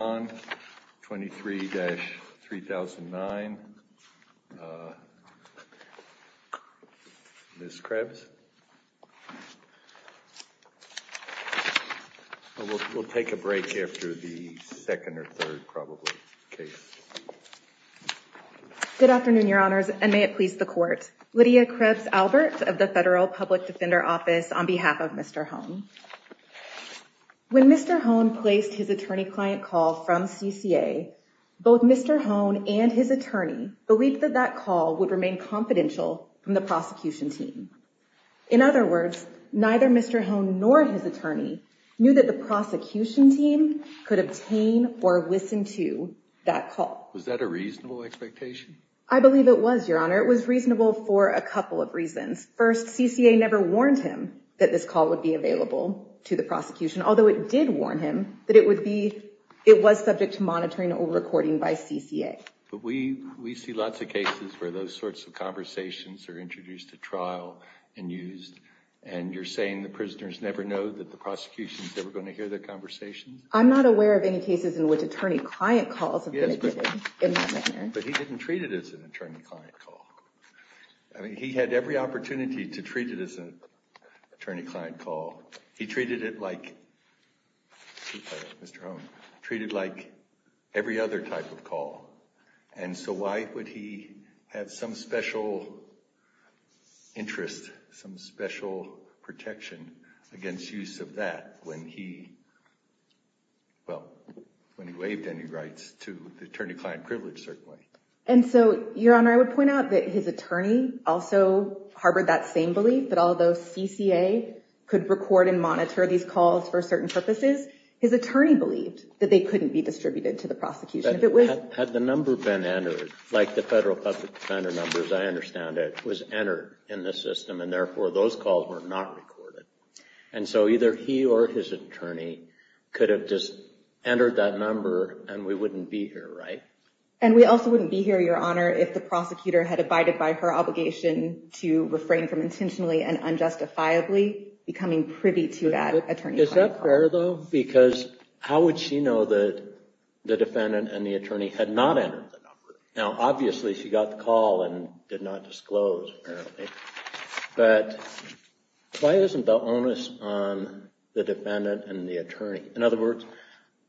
23-3009. Ms. Krebs. We'll take a break after the second or third, probably, case. Good afternoon, Your Honors, and may it please the Court. Lydia Krebs-Albert of the Federal Public Defender Office on behalf of Mr. Hohn. When Mr. Hohn placed his attorney-client call from CCA, both Mr. Hohn and his attorney believed that that call would remain confidential from the prosecution team. In other words, neither Mr. Hohn nor his attorney knew that the prosecution team could obtain or listen to that call. Was that a reasonable expectation? I believe it was, Your Honor. It was reasonable for a couple of reasons. First, CCA never warned him that this call would be available to the prosecution, although it did warn him that it was subject to monitoring or recording by CCA. But we see lots of cases where those sorts of conversations are introduced at trial and used. And you're saying the prisoners never know that the prosecution is ever going to hear their conversations? I'm not aware of any cases in which attorney-client calls have been admitted in that manner. But he didn't treat it as an attorney-client call. I mean, he had every opportunity to treat it as an attorney-client call. He treated it like, excuse me, Mr. Hohn, treated it like every other type of call. And so why would he have some special interest, some special protection against use of that when he, well, when he waived any rights to the attorney-client privilege, certainly? And so, Your Honor, I would point out that his attorney also harbored that same belief that although CCA could record and monitor these calls for certain purposes, his attorney believed that they couldn't be distributed to the prosecution. Had the number been entered, like the federal public defender number, as I understand it, was entered in the system, and therefore those calls were not recorded. And so either he or his attorney could have just entered that number and we wouldn't be here, right? And we also wouldn't be here, Your Honor, if the prosecutor had abided by her obligation to refrain from intentionally and unjustifiably becoming privy to that attorney-client call. Is that fair, though? Because how would she know that the defendant and the attorney had not entered the number? Now, obviously, she got the call and did not disclose, apparently. But why isn't the onus on the defendant and the attorney? In other words,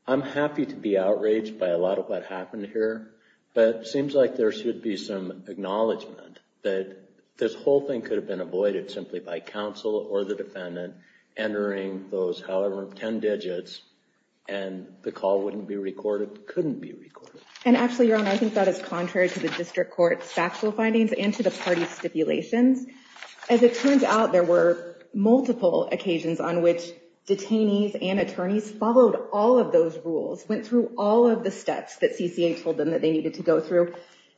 I'm happy to be outraged by a lot of what happened here. But it seems like there should be some acknowledgment that this whole thing could have been avoided simply by counsel or the defendant entering those, however, 10 digits and the call wouldn't be recorded, couldn't be recorded. And actually, Your Honor, I think that is contrary to the district court's factual findings and to the party's stipulations. As it turns out, there were multiple occasions on which detainees and attorneys followed all of those rules, went through all of the steps that CCA told them that they needed to go through.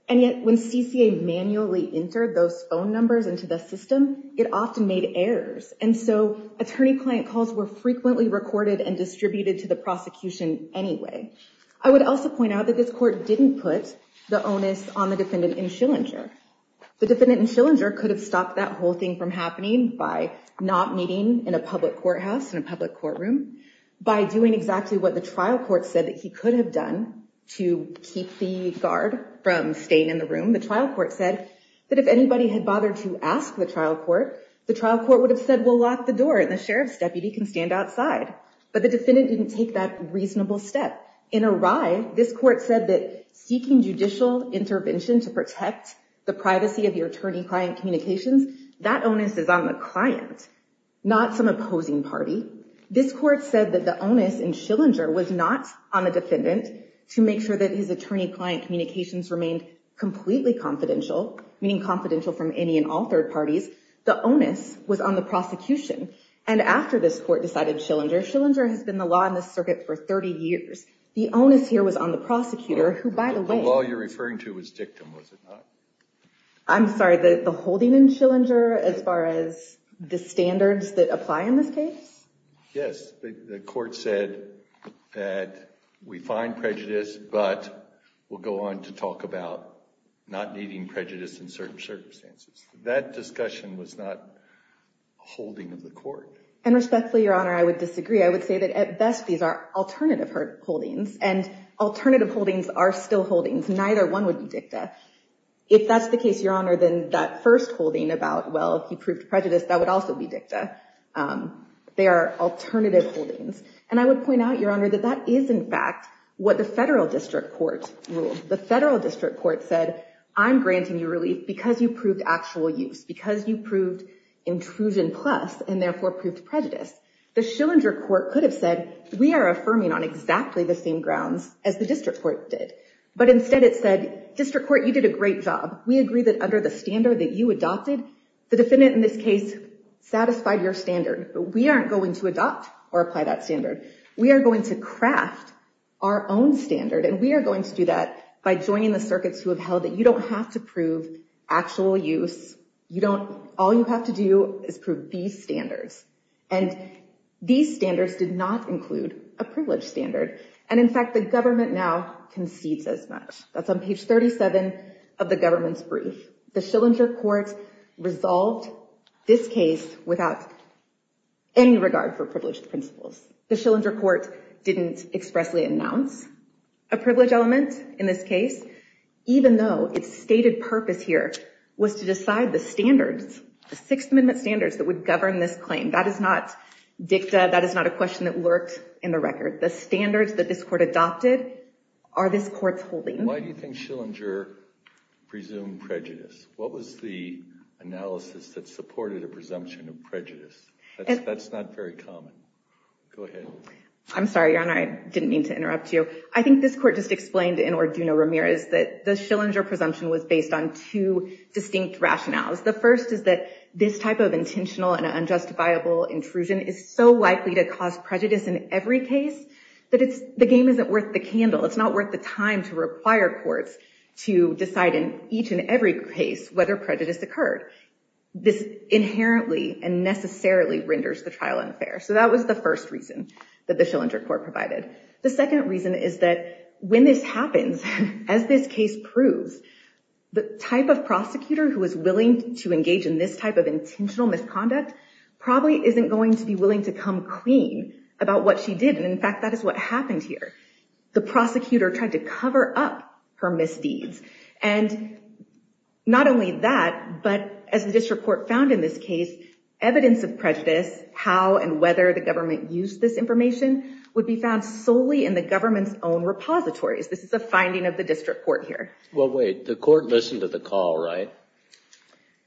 And yet when CCA manually entered those phone numbers into the system, it often made errors. And so attorney-client calls were frequently recorded and distributed to the prosecution anyway. I would also point out that this court didn't put the onus on the defendant in Schillinger. The defendant in Schillinger could have stopped that whole thing from happening by not meeting in a public courthouse, in a public courtroom, by doing exactly what the trial court said that he could have done to keep the guard from staying in the room. The trial court said that if anybody had bothered to ask the trial court, the trial court would have said, well, lock the door and the sheriff's deputy can stand outside. But the defendant didn't take that reasonable step. In a riot, this court said that seeking judicial intervention to protect the privacy of your attorney-client communications, that onus is on the client, not some opposing party. This court said that the onus in Schillinger was not on the defendant to make sure that his attorney-client communications remained completely confidential, meaning confidential from any and all third parties. The onus was on the prosecution. And after this court decided Schillinger, Schillinger has been the law in this circuit for 30 years. The onus here was on the prosecutor, who, by the way— The law you're referring to was dictum, was it not? I'm sorry, the holding in Schillinger as far as the standards that apply in this case? Yes. The court said that we find prejudice, but we'll go on to talk about not meeting prejudice in certain circumstances. That discussion was not a holding of the court. And respectfully, Your Honor, I would disagree. I would say that at best these are alternative holdings, and alternative holdings are still holdings. Neither one would be dicta. If that's the case, Your Honor, then that first holding about, well, he proved prejudice, that would also be dicta. They are alternative holdings. And I would point out, Your Honor, that that is, in fact, what the federal district court ruled. The federal district court said, I'm granting you relief because you proved actual use, because you proved intrusion plus, and therefore proved prejudice. The Schillinger court could have said, we are affirming on exactly the same grounds as the district court did. But instead it said, district court, you did a great job. We agree that under the standard that you adopted, the defendant in this case satisfied your standard. We aren't going to adopt or apply that standard. We are going to craft our own standard. And we are going to do that by joining the circuits who have held that you don't have to prove actual use. All you have to do is prove these standards. And these standards did not include a privileged standard. And, in fact, the government now concedes as much. That's on page 37 of the government's brief. The Schillinger court resolved this case without any regard for privileged principles. The Schillinger court didn't expressly announce a privileged element in this case, even though its stated purpose here was to decide the standards, the Sixth Amendment standards that would govern this claim. That is not dicta. That is not a question that lurked in the record. The standards that this court adopted are this court's holding. Why do you think Schillinger presumed prejudice? What was the analysis that supported a presumption of prejudice? That's not very common. Go ahead. I'm sorry, Your Honor. I didn't mean to interrupt you. I think this court just explained in Orduno-Ramirez that the Schillinger presumption was based on two distinct rationales. The first is that this type of intentional and unjustifiable intrusion is so likely to cause prejudice in every case that the game isn't worth the candle. It's not worth the time to require courts to decide in each and every case whether prejudice occurred. This inherently and necessarily renders the trial unfair. So that was the first reason that the Schillinger court provided. The second reason is that when this happens, as this case proves, the type of prosecutor who is willing to engage in this type of intentional misconduct probably isn't going to be willing to come clean about what she did. And in fact, that is what happened here. The prosecutor tried to cover up her misdeeds. And not only that, but as the district court found in this case, evidence of prejudice, how and whether the government used this information, would be found solely in the government's own repositories. This is a finding of the district court here. Well, wait. The court listened to the call, right?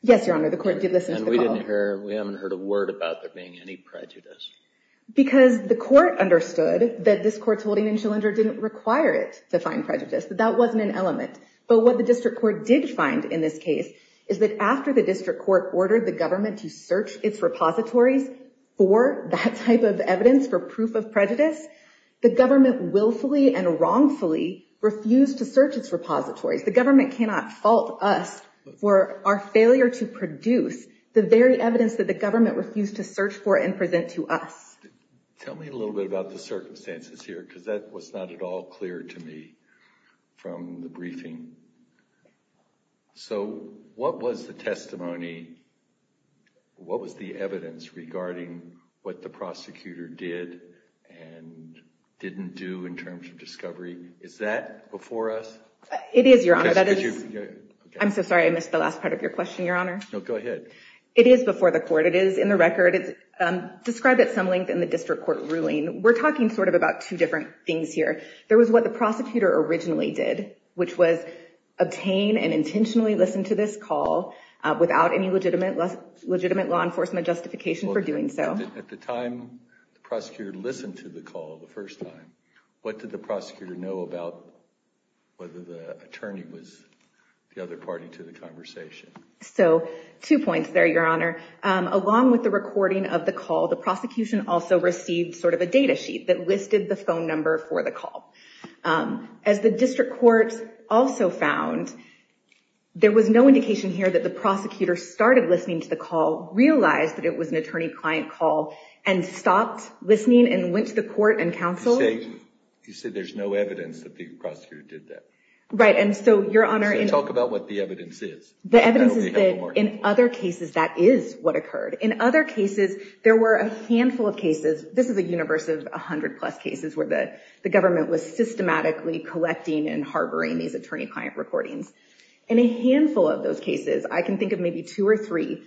Yes, Your Honor. The court did listen to the call. And we haven't heard a word about there being any prejudice. Because the court understood that this court's holding in Schillinger didn't require it to find prejudice. That that wasn't an element. But what the district court did find in this case is that after the district court ordered the government to search its repositories for that type of evidence, for proof of prejudice, the government willfully and wrongfully refused to search its repositories. The government cannot fault us for our failure to produce the very evidence that the government refused to search for and present to us. Tell me a little bit about the circumstances here, because that was not at all clear to me from the briefing. So what was the testimony? What was the evidence regarding what the prosecutor did and didn't do in terms of discovery? Is that before us? It is, Your Honor. I'm so sorry. I missed the last part of your question, Your Honor. No, go ahead. It is before the court. It is in the record. It's described at some length in the district court ruling. We're talking sort of about two different things here. There was what the prosecutor originally did, which was obtain and intentionally listen to this call without any legitimate law enforcement justification for doing so. At the time the prosecutor listened to the call the first time, what did the prosecutor know about whether the attorney was the other party to the conversation? So two points there, Your Honor. Along with the recording of the call, the prosecution also received sort of a data sheet that listed the phone number for the call. As the district court also found, there was no indication here that the prosecutor started listening to the call, realized that it was an attorney-client call, and stopped listening and went to the court and counsel. You say there's no evidence that the prosecutor did that. Right, and so, Your Honor. So talk about what the evidence is. The evidence is that in other cases, that is what occurred. In other cases, there were a handful of cases. This is a universe of 100-plus cases where the government was systematically collecting and harboring these attorney-client recordings. In a handful of those cases, I can think of maybe two or three,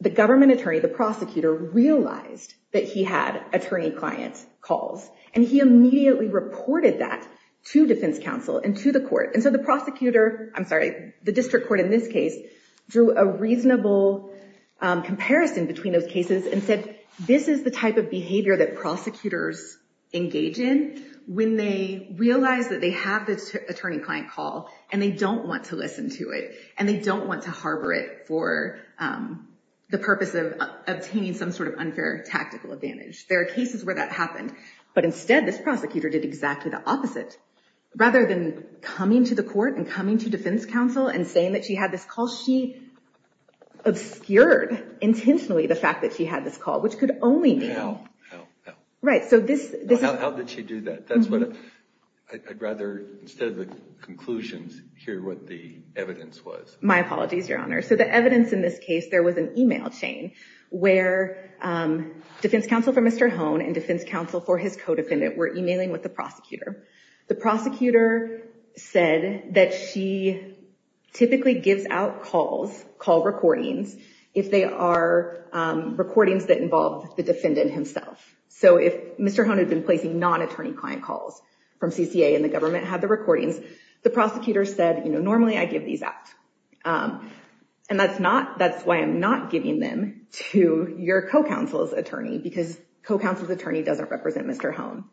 the government attorney, the prosecutor, realized that he had attorney-client calls. And he immediately reported that to defense counsel and to the court. And so the prosecutor, I'm sorry, the district court in this case, drew a reasonable comparison between those cases and said, this is the type of behavior that prosecutors engage in when they realize that they have this attorney-client call, and they don't want to listen to it, and they don't want to harbor it for the purpose of obtaining some sort of unfair tactical advantage. There are cases where that happened. But instead, this prosecutor did exactly the opposite. Rather than coming to the court and coming to defense counsel and saying that she had this call, she obscured intentionally the fact that she had this call, which could only mean— How? How? How? Right, so this— How did she do that? That's what I'd rather, instead of the conclusions, hear what the evidence was. My apologies, Your Honor. So the evidence in this case, there was an email chain where defense counsel for Mr. Hohn and defense counsel for his co-defendant were emailing with the prosecutor. The prosecutor said that she typically gives out calls, call recordings, if they are recordings that involve the defendant himself. So if Mr. Hohn had been placing non-attorney-client calls from CCA and the government had the recordings, the prosecutor said, you know, normally I give these out. And that's not—that's why I'm not giving them to your co-counsel's attorney, because co-counsel's attorney doesn't represent Mr. Hohn.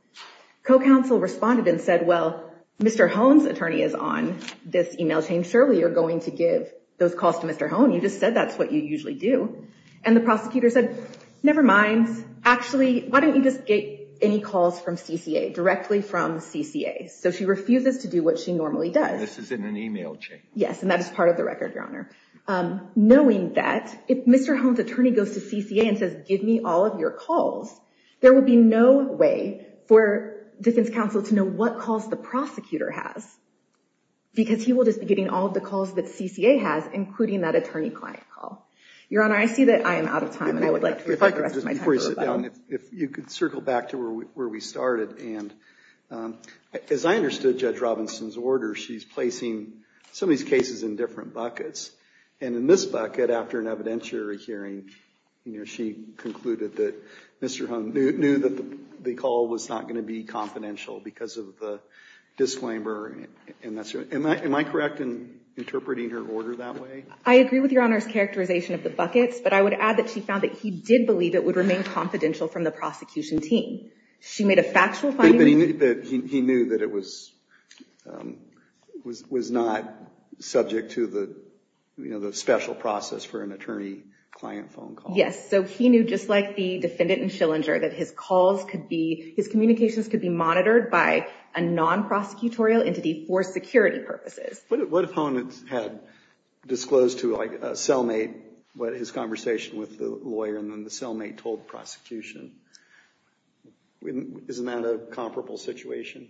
Co-counsel responded and said, well, Mr. Hohn's attorney is on this email chain. Surely you're going to give those calls to Mr. Hohn. You just said that's what you usually do. And the prosecutor said, never mind. Actually, why don't you just get any calls from CCA, directly from CCA? So she refuses to do what she normally does. And this is in an email chain. Yes, and that is part of the record, Your Honor. Knowing that, if Mr. Hohn's attorney goes to CCA and says, give me all of your calls, there would be no way for defense counsel to know what calls the prosecutor has, because he will just be getting all of the calls that CCA has, including that attorney-client call. Your Honor, I see that I am out of time, and I would like to reflect the rest of my time. Before you sit down, if you could circle back to where we started. As I understood Judge Robinson's order, she's placing some of these cases in different buckets. And in this bucket, after an evidentiary hearing, she concluded that Mr. Hohn knew that the call was not going to be confidential because of the disclaimer. Am I correct in interpreting her order that way? I agree with Your Honor's characterization of the buckets, but I would add that she found that he did believe it would remain confidential from the prosecution team. She made a factual finding? He knew that it was not subject to the special process for an attorney-client phone call. Yes, so he knew, just like the defendant in Schillinger, that his communications could be monitored by a non-prosecutorial entity for security purposes. What if Hohn had disclosed to a cellmate his conversation with the lawyer, and then the cellmate told the prosecution? Isn't that a comparable situation?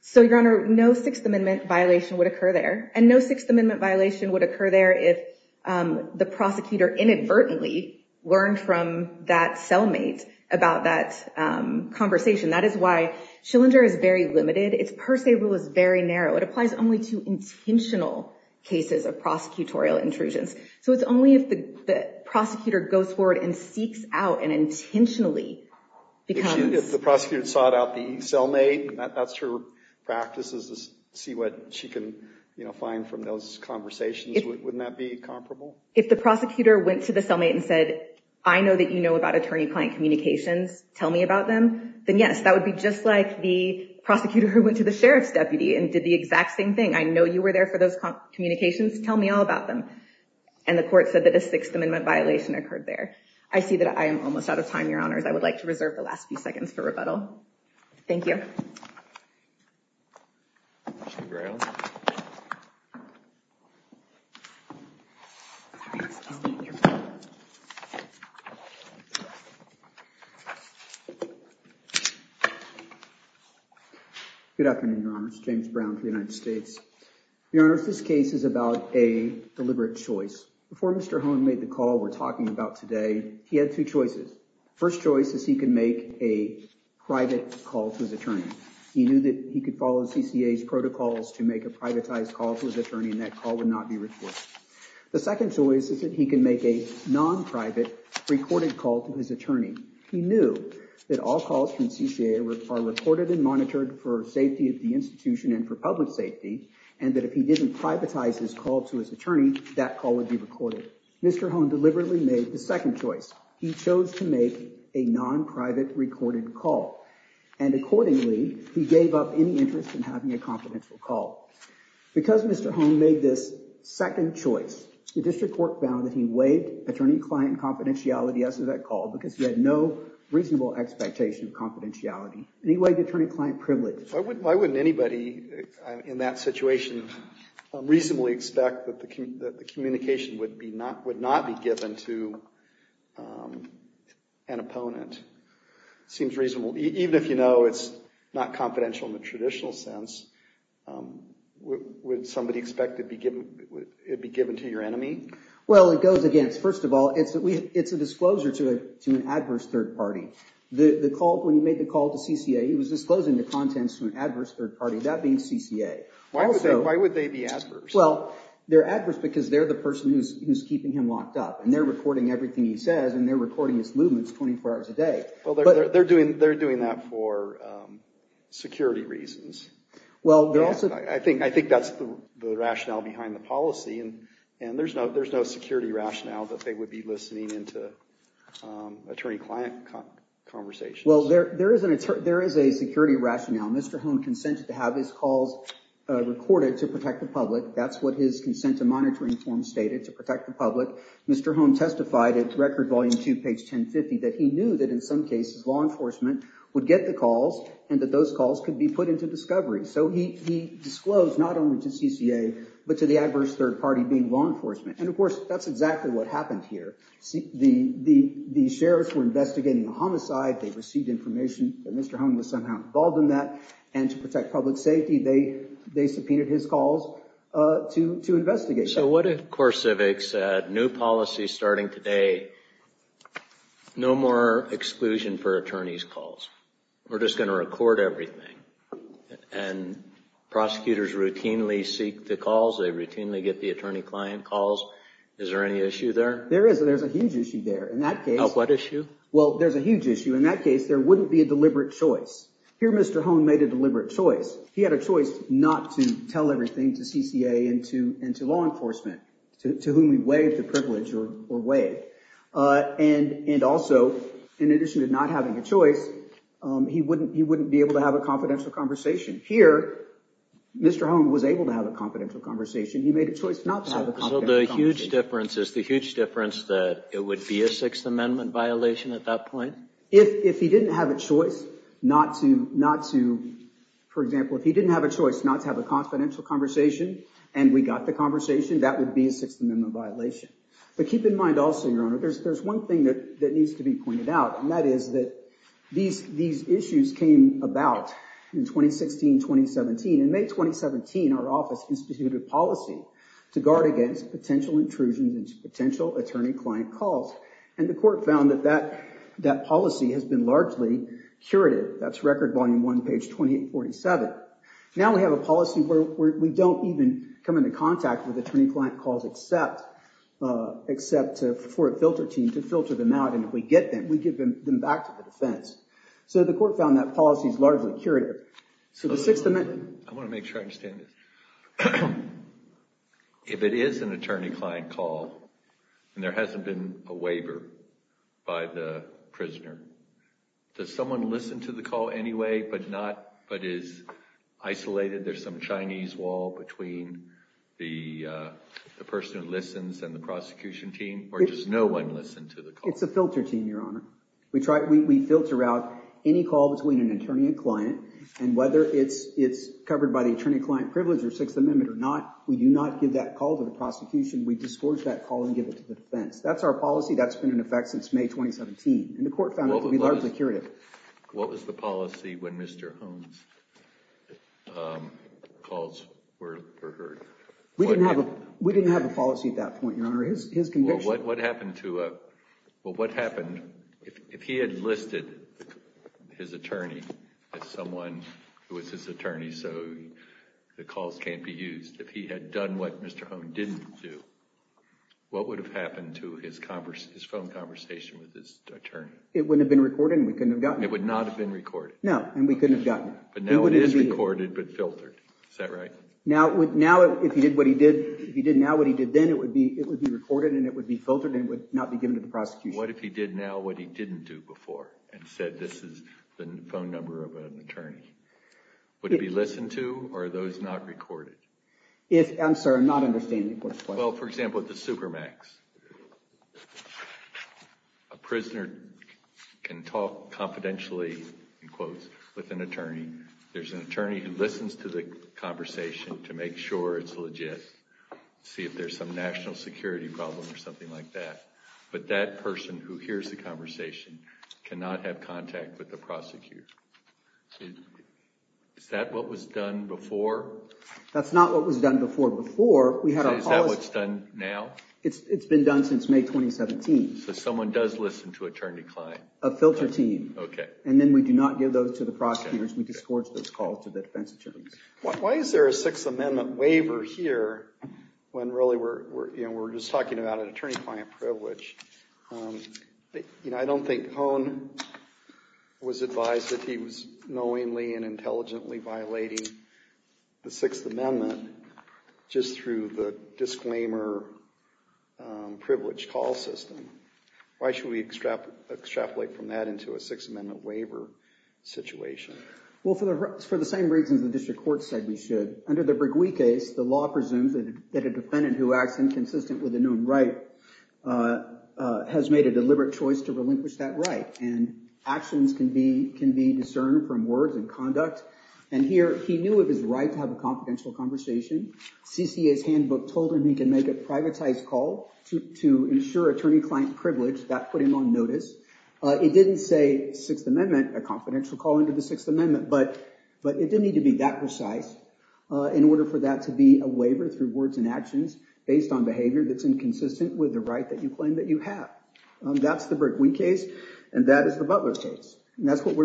So, Your Honor, no Sixth Amendment violation would occur there. And no Sixth Amendment violation would occur there if the prosecutor inadvertently learned from that cellmate about that conversation. That is why Schillinger is very limited. Its per se rule is very narrow. It applies only to intentional cases of prosecutorial intrusions. So it's only if the prosecutor goes forward and seeks out and intentionally becomes— If the prosecutor sought out the cellmate, and that's her practice is to see what she can find from those conversations, wouldn't that be comparable? If the prosecutor went to the cellmate and said, I know that you know about attorney-client communications. Tell me about them. Then, yes, that would be just like the prosecutor who went to the sheriff's deputy and did the exact same thing. I know you were there for those communications. Tell me all about them. And the court said that a Sixth Amendment violation occurred there. I see that I am almost out of time, Your Honors. I would like to reserve the last few seconds for rebuttal. Thank you. Good afternoon, Your Honors. James Brown for the United States. Your Honors, this case is about a deliberate choice. Before Mr. Hohn made the call we're talking about today, he had two choices. First choice is he can make a private call to his attorney. He knew that he could follow CCA's protocols to make a privatized call to his attorney, and that call would not be recorded. The second choice is that he can make a non-private recorded call to his attorney. He knew that all calls from CCA are recorded and monitored for safety of the institution and for public safety, and that if he didn't privatize his call to his attorney, that call would be recorded. Mr. Hohn deliberately made the second choice. He chose to make a non-private recorded call, and accordingly, he gave up any interest in having a confidential call. Because Mr. Hohn made this second choice, the district court found that he waived attorney-client confidentiality as to that call because he had no reasonable expectation of confidentiality. And he waived attorney-client privilege. Why wouldn't anybody in that situation reasonably expect that the communication would not be given to an opponent? It seems reasonable. Even if you know it's not confidential in the traditional sense, would somebody expect it would be given to your enemy? Well, it goes against, first of all, it's a disclosure to an adverse third party. When he made the call to CCA, he was disclosing the contents to an adverse third party, that being CCA. Why would they be adverse? Well, they're adverse because they're the person who's keeping him locked up, and they're recording everything he says, and they're recording his movements 24 hours a day. Well, they're doing that for security reasons. I think that's the rationale behind the policy, and there's no security rationale that they would be listening into attorney-client conversations. Well, there is a security rationale. Mr. Hohn consented to have his calls recorded to protect the public. That's what his consent to monitoring form stated, to protect the public. Mr. Hohn testified at Record Volume 2, page 1050, that he knew that in some cases law enforcement would get the calls, and that those calls could be put into discovery. So he disclosed not only to CCA, but to the adverse third party, being law enforcement. And, of course, that's exactly what happened here. The sheriffs were investigating the homicide. They received information that Mr. Hohn was somehow involved in that, and to protect public safety, they subpoenaed his calls to investigate. So what if CoreCivic said, new policy starting today, no more exclusion for attorney's calls. We're just going to record everything. And prosecutors routinely seek the calls. They routinely get the attorney-client calls. Is there any issue there? There is. There's a huge issue there. In that case— What issue? Well, there's a huge issue. In that case, there wouldn't be a deliberate choice. Here, Mr. Hohn made a deliberate choice. He had a choice not to tell everything to CCA and to law enforcement, to whom he waived the privilege or waived. And also, in addition to not having a choice, he wouldn't be able to have a confidential conversation. Here, Mr. Hohn was able to have a confidential conversation. He made a choice not to have a confidential conversation. So the huge difference is the huge difference that it would be a Sixth Amendment violation at that point? If he didn't have a choice not to, for example, if he didn't have a choice not to have a confidential conversation and we got the conversation, that would be a Sixth Amendment violation. But keep in mind also, Your Honor, there's one thing that needs to be pointed out, and that is that these issues came about in 2016-2017. In May 2017, our office instituted a policy to guard against potential intrusions into potential attorney-client calls. And the court found that that policy has been largely curative. That's Record Volume 1, page 2847. Now we have a policy where we don't even come into contact with attorney-client calls except for a filter team to filter them out. And if we get them, we give them back to the defense. So the court found that policy is largely curative. I want to make sure I understand this. If it is an attorney-client call and there hasn't been a waiver by the prisoner, does someone listen to the call anyway but is isolated? There's some Chinese wall between the person who listens and the prosecution team, or does no one listen to the call? It's a filter team, Your Honor. We filter out any call between an attorney and client, and whether it's covered by the attorney-client privilege or Sixth Amendment or not, we do not give that call to the prosecution. We disgorge that call and give it to the defense. That's our policy. That's been in effect since May 2017. And the court found it to be largely curative. What was the policy when Mr. Holmes' calls were heard? We didn't have a policy at that point, Your Honor. His conviction— Well, what happened if he had listed his attorney as someone who was his attorney so the calls can't be used? If he had done what Mr. Holmes didn't do, what would have happened to his phone conversation with his attorney? It wouldn't have been recorded and we couldn't have gotten it. It would not have been recorded. No, and we couldn't have gotten it. But now it is recorded but filtered. Is that right? Now, if he did now what he did then, it would be recorded and it would be filtered and it would not be given to the prosecution. What if he did now what he didn't do before and said this is the phone number of an attorney? Would it be listened to or are those not recorded? I'm sorry, I'm not understanding the question. Well, for example, at the Supermax, a prisoner can talk confidentially, in quotes, with an attorney. There's an attorney who listens to the conversation to make sure it's legit, see if there's some national security problem or something like that. But that person who hears the conversation cannot have contact with the prosecutor. Is that what was done before? That's not what was done before. Before, we had a policy— So is that what's done now? It's been done since May 2017. So someone does listen to attorney-client. A filter team. Okay. And then we do not give those to the prosecutors. We discourage those calls to the defense attorneys. Why is there a Sixth Amendment waiver here when really we're just talking about an attorney-client privilege? I don't think Cohn was advised that he was knowingly and intelligently violating the Sixth Amendment just through the disclaimer privilege call system. Why should we extrapolate from that into a Sixth Amendment waiver situation? Well, for the same reasons the district court said we should. Under the Breguet case, the law presumes that a defendant who acts inconsistent with a known right has made a deliberate choice to relinquish that right. And actions can be discerned from words and conduct. And here, he knew it was right to have a confidential conversation. CCA's handbook told him he can make a privatized call to ensure attorney-client privilege. That put him on notice. It didn't say Sixth Amendment, a confidential call into the Sixth Amendment. But it didn't need to be that precise in order for that to be a waiver through words and actions based on behavior that's inconsistent with the right that you claim that you have. That's the Breguet case. And that is the Butler case. And that's what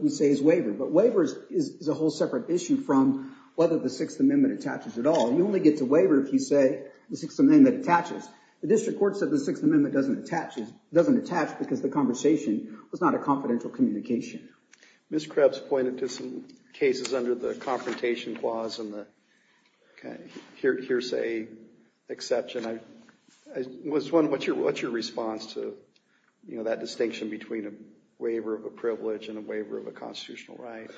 we say is waiver. But waiver is a whole separate issue from whether the Sixth Amendment attaches at all. You only get to waiver if you say the Sixth Amendment attaches. The district court said the Sixth Amendment doesn't attach because the conversation was not a confidential communication. Ms. Krebs pointed to some cases under the Confrontation Clause and the hearsay exception. What's your response to that distinction between a waiver of a privilege and a waiver of a constitutional right?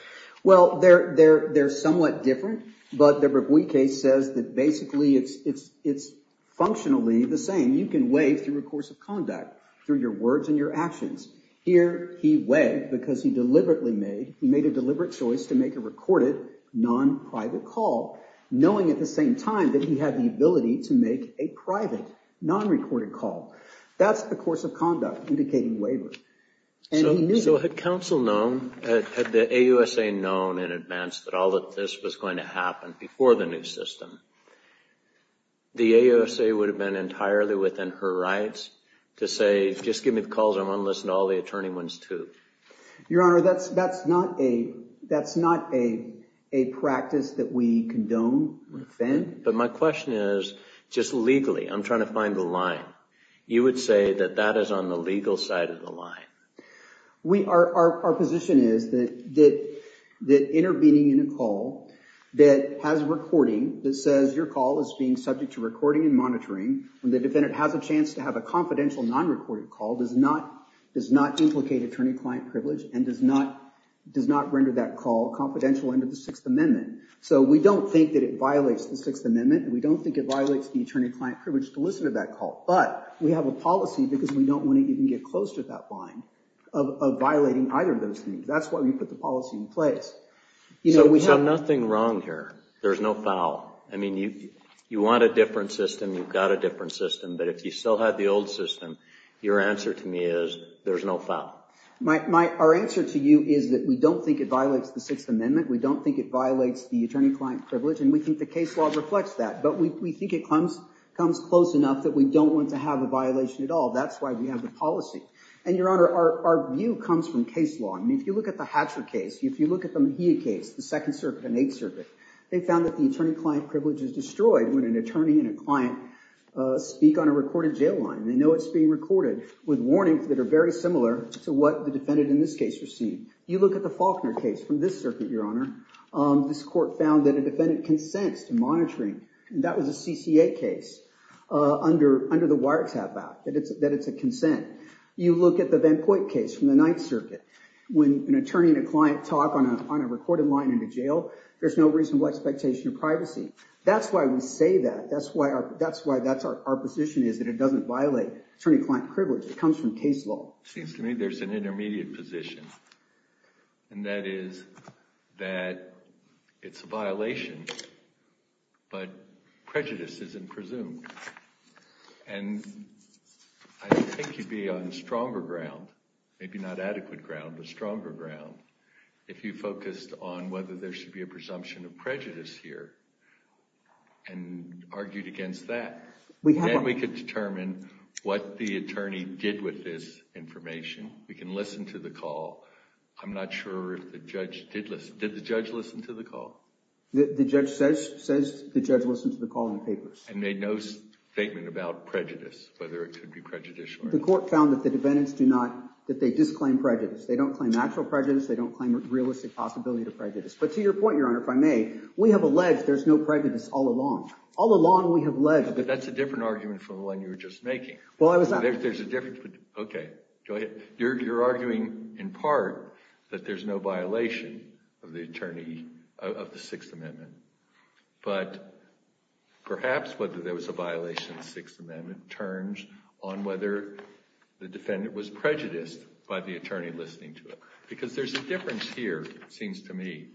Well, they're somewhat different. But the Breguet case says that basically it's functionally the same. You can waive through a course of conduct, through your words and your actions. Here he waived because he deliberately made a deliberate choice to make a recorded, non-private call, knowing at the same time that he had the ability to make a private, non-recorded call. That's the course of conduct indicating waiver. So had counsel known, had the AUSA known in advance that all of this was going to happen before the new system, the AUSA would have been entirely within her rights to say, just give me the calls, I want to listen to all the attorney ones, too. Your Honor, that's not a practice that we condone or defend. But my question is, just legally, I'm trying to find the line. You would say that that is on the legal side of the line. Our position is that intervening in a call that has recording, that says your call is being subject to recording and monitoring, and the defendant has a chance to have a confidential, non-recorded call, does not implicate attorney-client privilege, and does not render that call confidential under the Sixth Amendment. So we don't think that it violates the Sixth Amendment, and we don't think it violates the attorney-client privilege to listen to that call. But we have a policy, because we don't want to even get close to that line, of violating either of those things. That's why we put the policy in place. So nothing wrong here. There's no foul. I mean, you want a different system, you've got a different system. But if you still had the old system, your answer to me is there's no foul. Our answer to you is that we don't think it violates the Sixth Amendment. We don't think it violates the attorney-client privilege, and we think the case law reflects that. But we think it comes close enough that we don't want to have a violation at all. That's why we have the policy. And, Your Honor, our view comes from case law. I mean, if you look at the Hatcher case, if you look at the Mejia case, the Second Circuit and Eighth Circuit, they found that the attorney-client privilege is destroyed when an attorney and a client speak on a recorded jail line. They know it's being recorded with warnings that are very similar to what the defendant in this case received. You look at the Faulkner case from this circuit, Your Honor. This court found that a defendant consents to monitoring. That was a CCA case under the wiretap act, that it's a consent. You look at the Van Point case from the Ninth Circuit. When an attorney and a client talk on a recorded line in a jail, there's no reasonable expectation of privacy. That's why we say that. That's why that's our position is that it doesn't violate attorney-client privilege. It comes from case law. It seems to me there's an intermediate position, and that is that it's a violation, but prejudice isn't presumed. And I think you'd be on stronger ground, maybe not adequate ground, but stronger ground, if you focused on whether there should be a presumption of prejudice here and argued against that. Then we could determine what the attorney did with this information. We can listen to the call. I'm not sure if the judge did listen. Did the judge listen to the call? The judge says the judge listened to the call in the papers. And made no statement about prejudice, whether it could be prejudicial or not. The court found that the defendants do not – that they disclaim prejudice. They don't claim actual prejudice. They don't claim a realistic possibility to prejudice. But to your point, Your Honor, if I may, we have alleged there's no prejudice all along. All along we have alleged – But that's a different argument from the one you were just making. Well, I was not – There's a difference. Okay. Go ahead. You're arguing in part that there's no violation of the Sixth Amendment. But perhaps whether there was a violation of the Sixth Amendment turns on whether the defendant was prejudiced by the attorney listening to it. Because there's a difference here, it seems to me,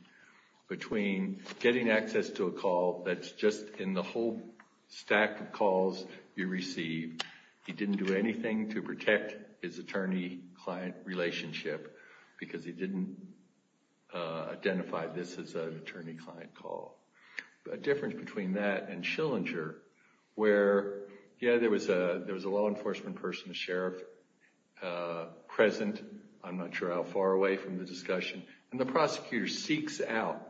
between getting access to a call that's just in the whole stack of calls you receive. He didn't do anything to protect his attorney-client relationship because he didn't identify this as an attorney-client call. A difference between that and Schillinger where, yeah, there was a law enforcement person, a sheriff, present. I'm not sure how far away from the discussion. And the prosecutor seeks out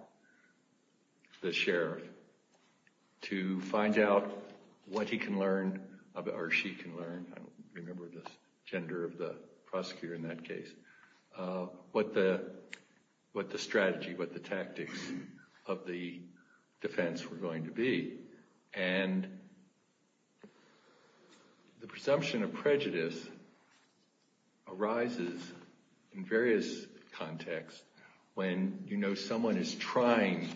the sheriff to find out what he can learn or she can learn – I don't remember the gender of the prosecutor in that case – what the strategy, what the tactics of the defense were going to be. And the presumption of prejudice arises in various contexts when you know someone is trying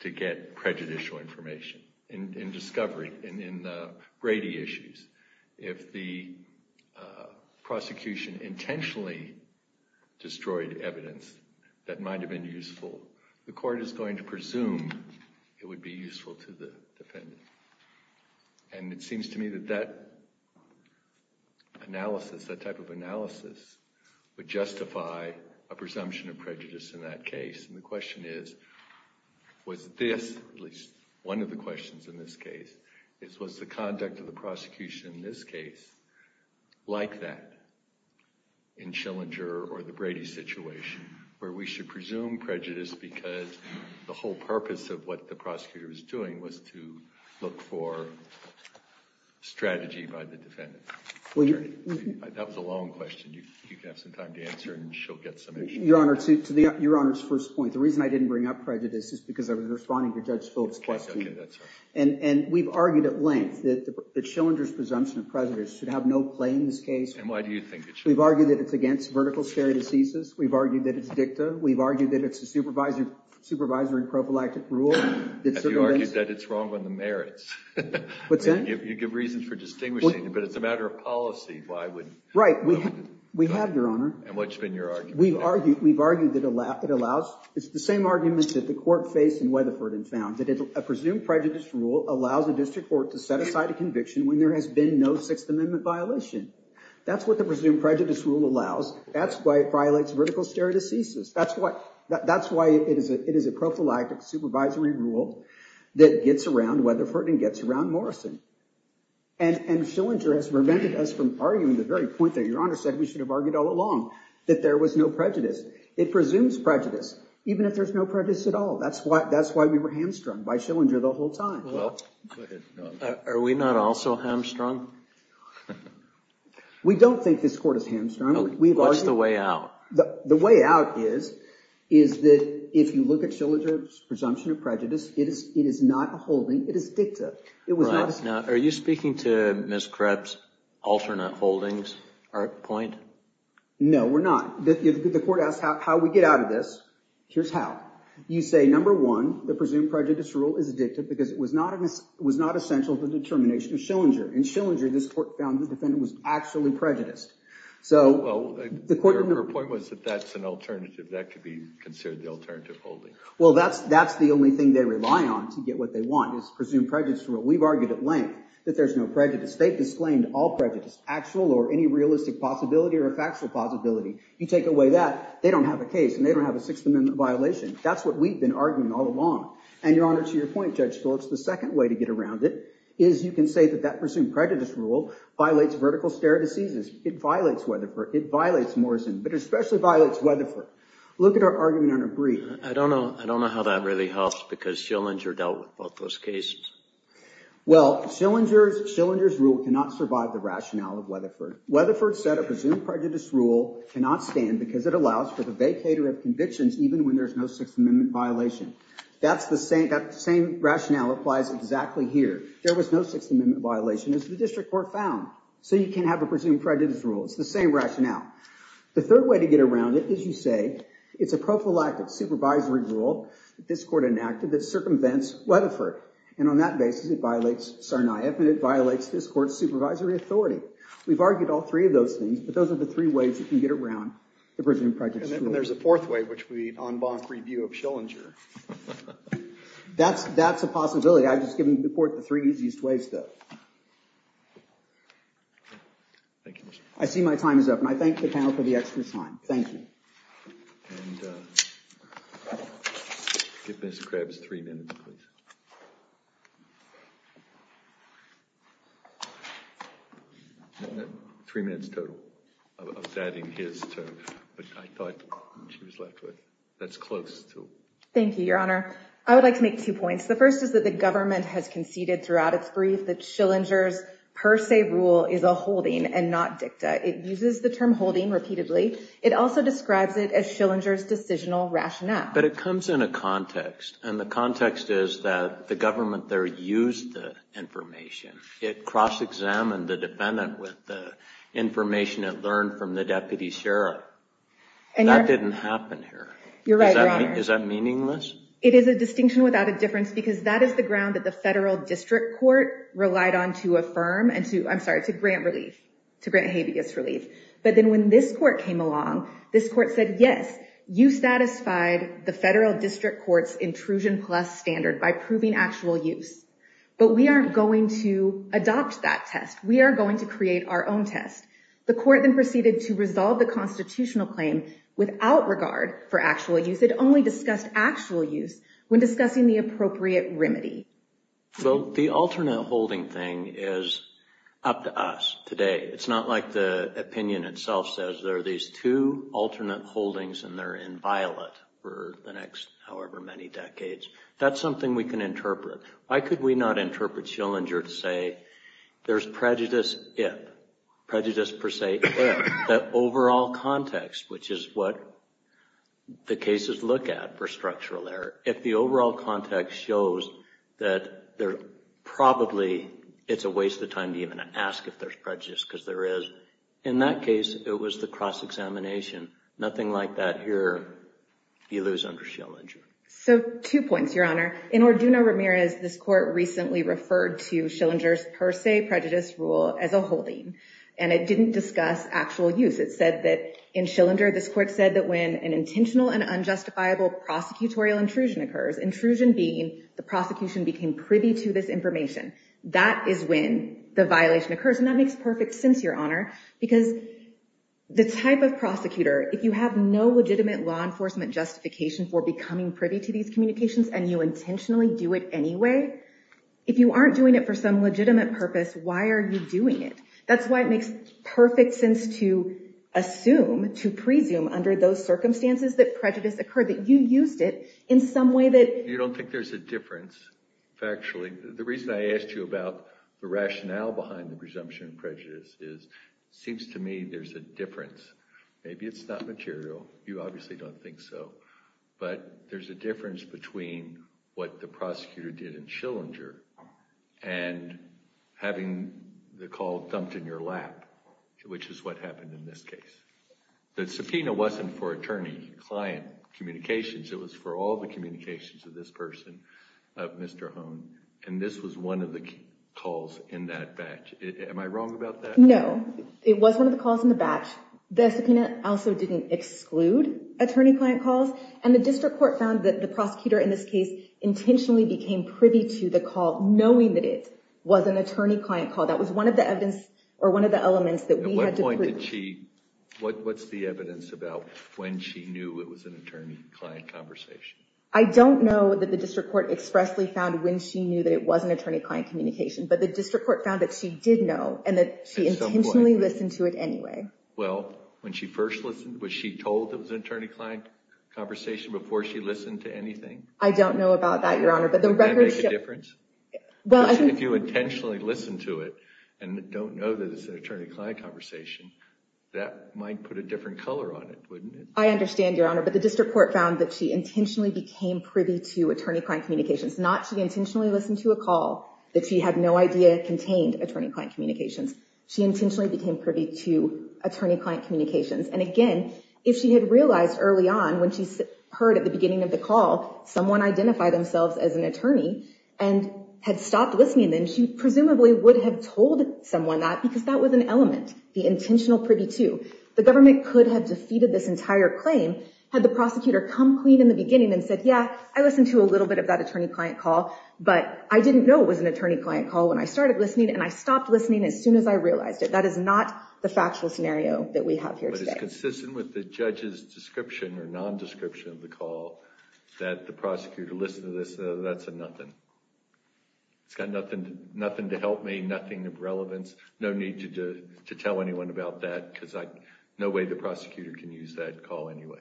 to get prejudicial information and discovery in the Brady issues. If the prosecution intentionally destroyed evidence that might have been useful, the court is going to presume it would be useful to the defendant. And it seems to me that that analysis, that type of analysis, would justify a presumption of prejudice in that case. And the question is, was this – at least one of the questions in this case – was the conduct of the prosecution in this case like that in Schillinger or the Brady situation where we should presume prejudice because the whole purpose of what the prosecutor was doing was to look for strategy by the defendant? That was a long question. You can have some time to answer and she'll get some answers. Your Honor, to Your Honor's first point, the reason I didn't bring up prejudice is because I was responding to Judge Phillips' question. Okay, that's all right. And we've argued at length that Schillinger's presumption of prejudice should have no play in this case. And why do you think it should? We've argued that it's against vertical stare decisis. We've argued that it's dicta. We've argued that it's a supervisory and prophylactic rule. Have you argued that it's wrong on the merits? What's that? You give reasons for distinguishing it, but it's a matter of policy. Why would – Right. We have, Your Honor. And what's been your argument? We've argued that it allows – it's the same arguments that the court faced in Weatherford and found, that a presumed prejudice rule allows a district court to set aside a conviction when there has been no Sixth Amendment violation. That's what the presumed prejudice rule allows. That's why it violates vertical stare decisis. That's why it is a prophylactic supervisory rule that gets around Weatherford and gets around Morrison. And Schillinger has prevented us from arguing the very point that Your Honor said we should have argued all along, that there was no prejudice. It presumes prejudice, even if there's no prejudice at all. That's why we were hamstrung by Schillinger the whole time. Well, are we not also hamstrung? We don't think this court is hamstrung. What's the way out? The way out is that if you look at Schillinger's presumption of prejudice, it is not a holding. It is dicta. Are you speaking to Ms. Krebs' alternate holdings point? No, we're not. The court asked how we get out of this. Here's how. You say, number one, the presumed prejudice rule is dicta because it was not essential to the determination of Schillinger. In Schillinger, this court found the defendant was actually prejudiced. Well, her point was that that's an alternative. That could be considered the alternative holding. Well, that's the only thing they rely on to get what they want is the presumed prejudice rule. We've argued at length that there's no prejudice. They've disclaimed all prejudice, actual or any realistic possibility or a factual possibility. You take away that, they don't have a case and they don't have a Sixth Amendment violation. That's what we've been arguing all along. And, Your Honor, to your point, Judge Stoltz, the second way to get around it is you can say that that presumed prejudice rule violates vertical stare deceases. It violates Weatherford. It violates Morrison, but it especially violates Weatherford. Look at our argument on a brief. I don't know how that really helps because Schillinger dealt with both those cases. Well, Schillinger's rule cannot survive the rationale of Weatherford. Weatherford said a presumed prejudice rule cannot stand because it allows for the vacator of convictions even when there's no Sixth Amendment violation. That same rationale applies exactly here. There was no Sixth Amendment violation as the district court found. So you can't have a presumed prejudice rule. It's the same rationale. The third way to get around it is you say it's a prophylactic supervisory rule that this court enacted that circumvents Weatherford. And on that basis, it violates Sarnaev and it violates this court's supervisory authority. We've argued all three of those things, but those are the three ways you can get around the presumed prejudice rule. And then there's a fourth way, which would be an en banc review of Schillinger. That's a possibility. I've just given the court the three easiest ways, though. Thank you. I see my time is up and I thank the panel for the extra time. Thank you. And give Ms. Krebs three minutes, please. Three minutes total of adding his term. But I thought she was left with that's close to. Thank you, Your Honor. I would like to make two points. The first is that the government has conceded throughout its brief that Schillinger's per se rule is a holding and not dicta. It uses the term holding repeatedly. It also describes it as Schillinger's decisional rationale. But it comes in a context. And the context is that the government there used the information. It cross-examined the defendant with the information it learned from the deputy sheriff. And that didn't happen here. You're right. Is that meaningless? It is a distinction without a difference because that is the ground that the federal district court relied on to affirm and to I'm sorry, to grant relief, to grant habeas relief. But then when this court came along, this court said, yes, you satisfied the federal district court's intrusion plus standard by proving actual use. But we aren't going to adopt that test. We are going to create our own test. The court then proceeded to resolve the constitutional claim without regard for actual use. It only discussed actual use when discussing the appropriate remedy. So the alternate holding thing is up to us today. It's not like the opinion itself says there are these two alternate holdings and they're inviolate for the next however many decades. That's something we can interpret. Why could we not interpret Schillinger to say there's prejudice if? Prejudice per se if. That overall context, which is what the cases look at for structural error. If the overall context shows that there probably it's a waste of time to even ask if there's prejudice because there is. In that case, it was the cross-examination. Nothing like that here. You lose under Schillinger. So two points, Your Honor. In Orduno Ramirez, this court recently referred to Schillinger's per se prejudice rule as a holding and it didn't discuss actual use. It said that in Schillinger, this court said that when an intentional and unjustifiable prosecutorial intrusion occurs, intrusion being the prosecution became privy to this information, that is when the violation occurs. And that makes perfect sense, Your Honor, because the type of prosecutor, if you have no legitimate law enforcement justification for becoming privy to these communications and you intentionally do it anyway. If you aren't doing it for some legitimate purpose, why are you doing it? That's why it makes perfect sense to assume, to presume under those circumstances that prejudice occurred, that you used it in some way that you don't think there's a difference. Factually, the reason I asked you about the rationale behind the presumption of prejudice is it seems to me there's a difference. Maybe it's not material. You obviously don't think so. But there's a difference between what the prosecutor did in Schillinger and having the call dumped in your lap, which is what happened in this case. The subpoena wasn't for attorney-client communications. It was for all the communications of this person, of Mr. Hohn. And this was one of the calls in that batch. Am I wrong about that? No. It was one of the calls in the batch. The subpoena also didn't exclude attorney-client calls. And the district court found that the prosecutor in this case intentionally became privy to the call, knowing that it was an attorney-client call. That was one of the elements that we had to— At what point did she—what's the evidence about when she knew it was an attorney-client conversation? I don't know that the district court expressly found when she knew that it was an attorney-client communication. But the district court found that she did know, and that she intentionally listened to it anyway. Well, when she first listened, was she told it was an attorney-client conversation before she listened to anything? I don't know about that, Your Honor. Would that make a difference? Well, I think— If you intentionally listen to it and don't know that it's an attorney-client conversation, that might put a different color on it, wouldn't it? I understand, Your Honor. But the district court found that she intentionally became privy to attorney-client communications. Not she intentionally listened to a call that she had no idea contained attorney-client communications. She intentionally became privy to attorney-client communications. And again, if she had realized early on when she heard at the beginning of the call someone identify themselves as an attorney, and had stopped listening, then she presumably would have told someone that because that was an element, the intentional privy to. The government could have defeated this entire claim had the prosecutor come clean in the beginning and said, yeah, I listened to a little bit of that attorney-client call, but I didn't know it was an attorney-client call when I started listening, and I stopped listening as soon as I realized it. That is not the factual scenario that we have here today. But it's consistent with the judge's description or nondescription of the call that the prosecutor listened to this. That's a nothing. It's got nothing to help me, nothing of relevance. No need to tell anyone about that because no way the prosecutor can use that call anyway.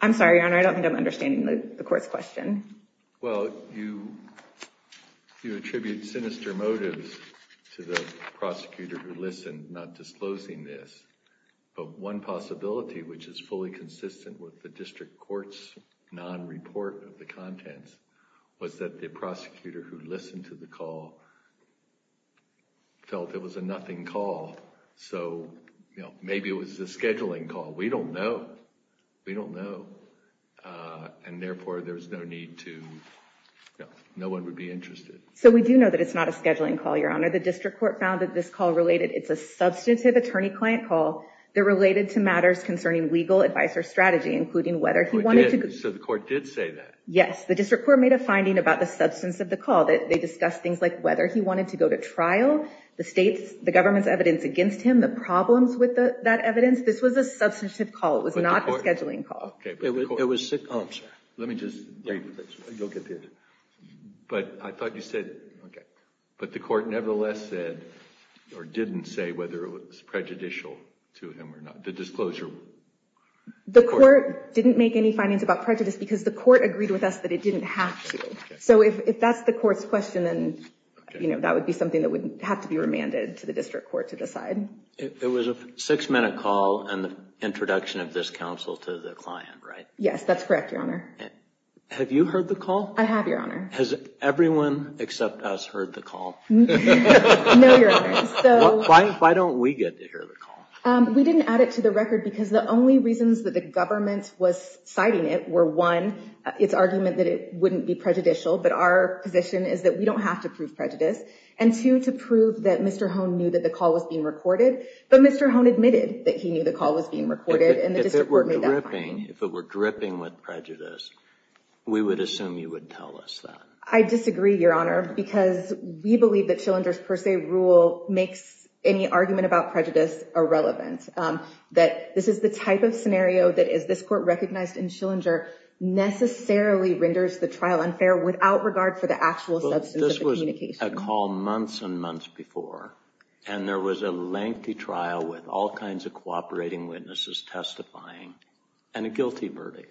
I'm sorry, Your Honor. I don't think I'm understanding the court's question. Well, you attribute sinister motives to the prosecutor who listened, not disclosing this. But one possibility, which is fully consistent with the district court's non-report of the contents, was that the prosecutor who listened to the call felt it was a nothing call. So maybe it was a scheduling call. We don't know. We don't know. And therefore, there's no need to – no one would be interested. So we do know that it's not a scheduling call, Your Honor. The district court found that this call related – it's a substantive attorney-client call. They're related to matters concerning legal advice or strategy, including whether he wanted to – So the court did say that? Yes. The district court made a finding about the substance of the call. They discussed things like whether he wanted to go to trial, the government's evidence against him, the problems with that evidence. This was a substantive call. It was not a scheduling call. It was – oh, I'm sorry. Let me just – you'll get the answer. But I thought you said – okay. But the court nevertheless said or didn't say whether it was prejudicial to him or not. The disclosure – The court didn't make any findings about prejudice because the court agreed with us that it didn't have to. So if that's the court's question, then that would be something that would have to be remanded to the district court to decide. It was a six-minute call and the introduction of this counsel to the client, right? Yes, that's correct, Your Honor. Have you heard the call? I have, Your Honor. Has everyone except us heard the call? No, Your Honor. Why don't we get to hear the call? We didn't add it to the record because the only reasons that the government was citing it were, one, its argument that it wouldn't be prejudicial, but our position is that we don't have to prove prejudice, and two, to prove that Mr. Hone knew that the call was being recorded, but Mr. Hone admitted that he knew the call was being recorded and the district court made that finding. If it were dripping with prejudice, we would assume you would tell us that. I disagree, Your Honor, because we believe that Schillinger's per se rule makes any argument about prejudice irrelevant, that this is the type of scenario that, as this court recognized in Schillinger, necessarily renders the trial unfair without regard for the actual substance of the communication. This is a call months and months before, and there was a lengthy trial with all kinds of cooperating witnesses testifying and a guilty verdict.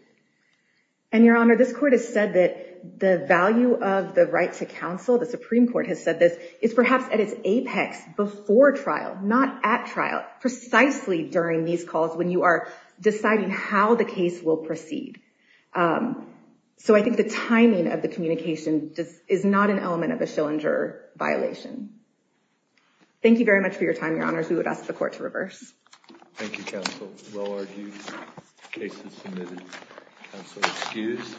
And, Your Honor, this court has said that the value of the right to counsel, the Supreme Court has said this, is perhaps at its apex before trial, not at trial, precisely during these calls when you are deciding how the case will proceed. So I think the timing of the communication is not an element of a Schillinger violation. Thank you very much for your time, Your Honors. We would ask the court to reverse. Thank you, counsel. Well argued. The case is submitted. Counsel excused.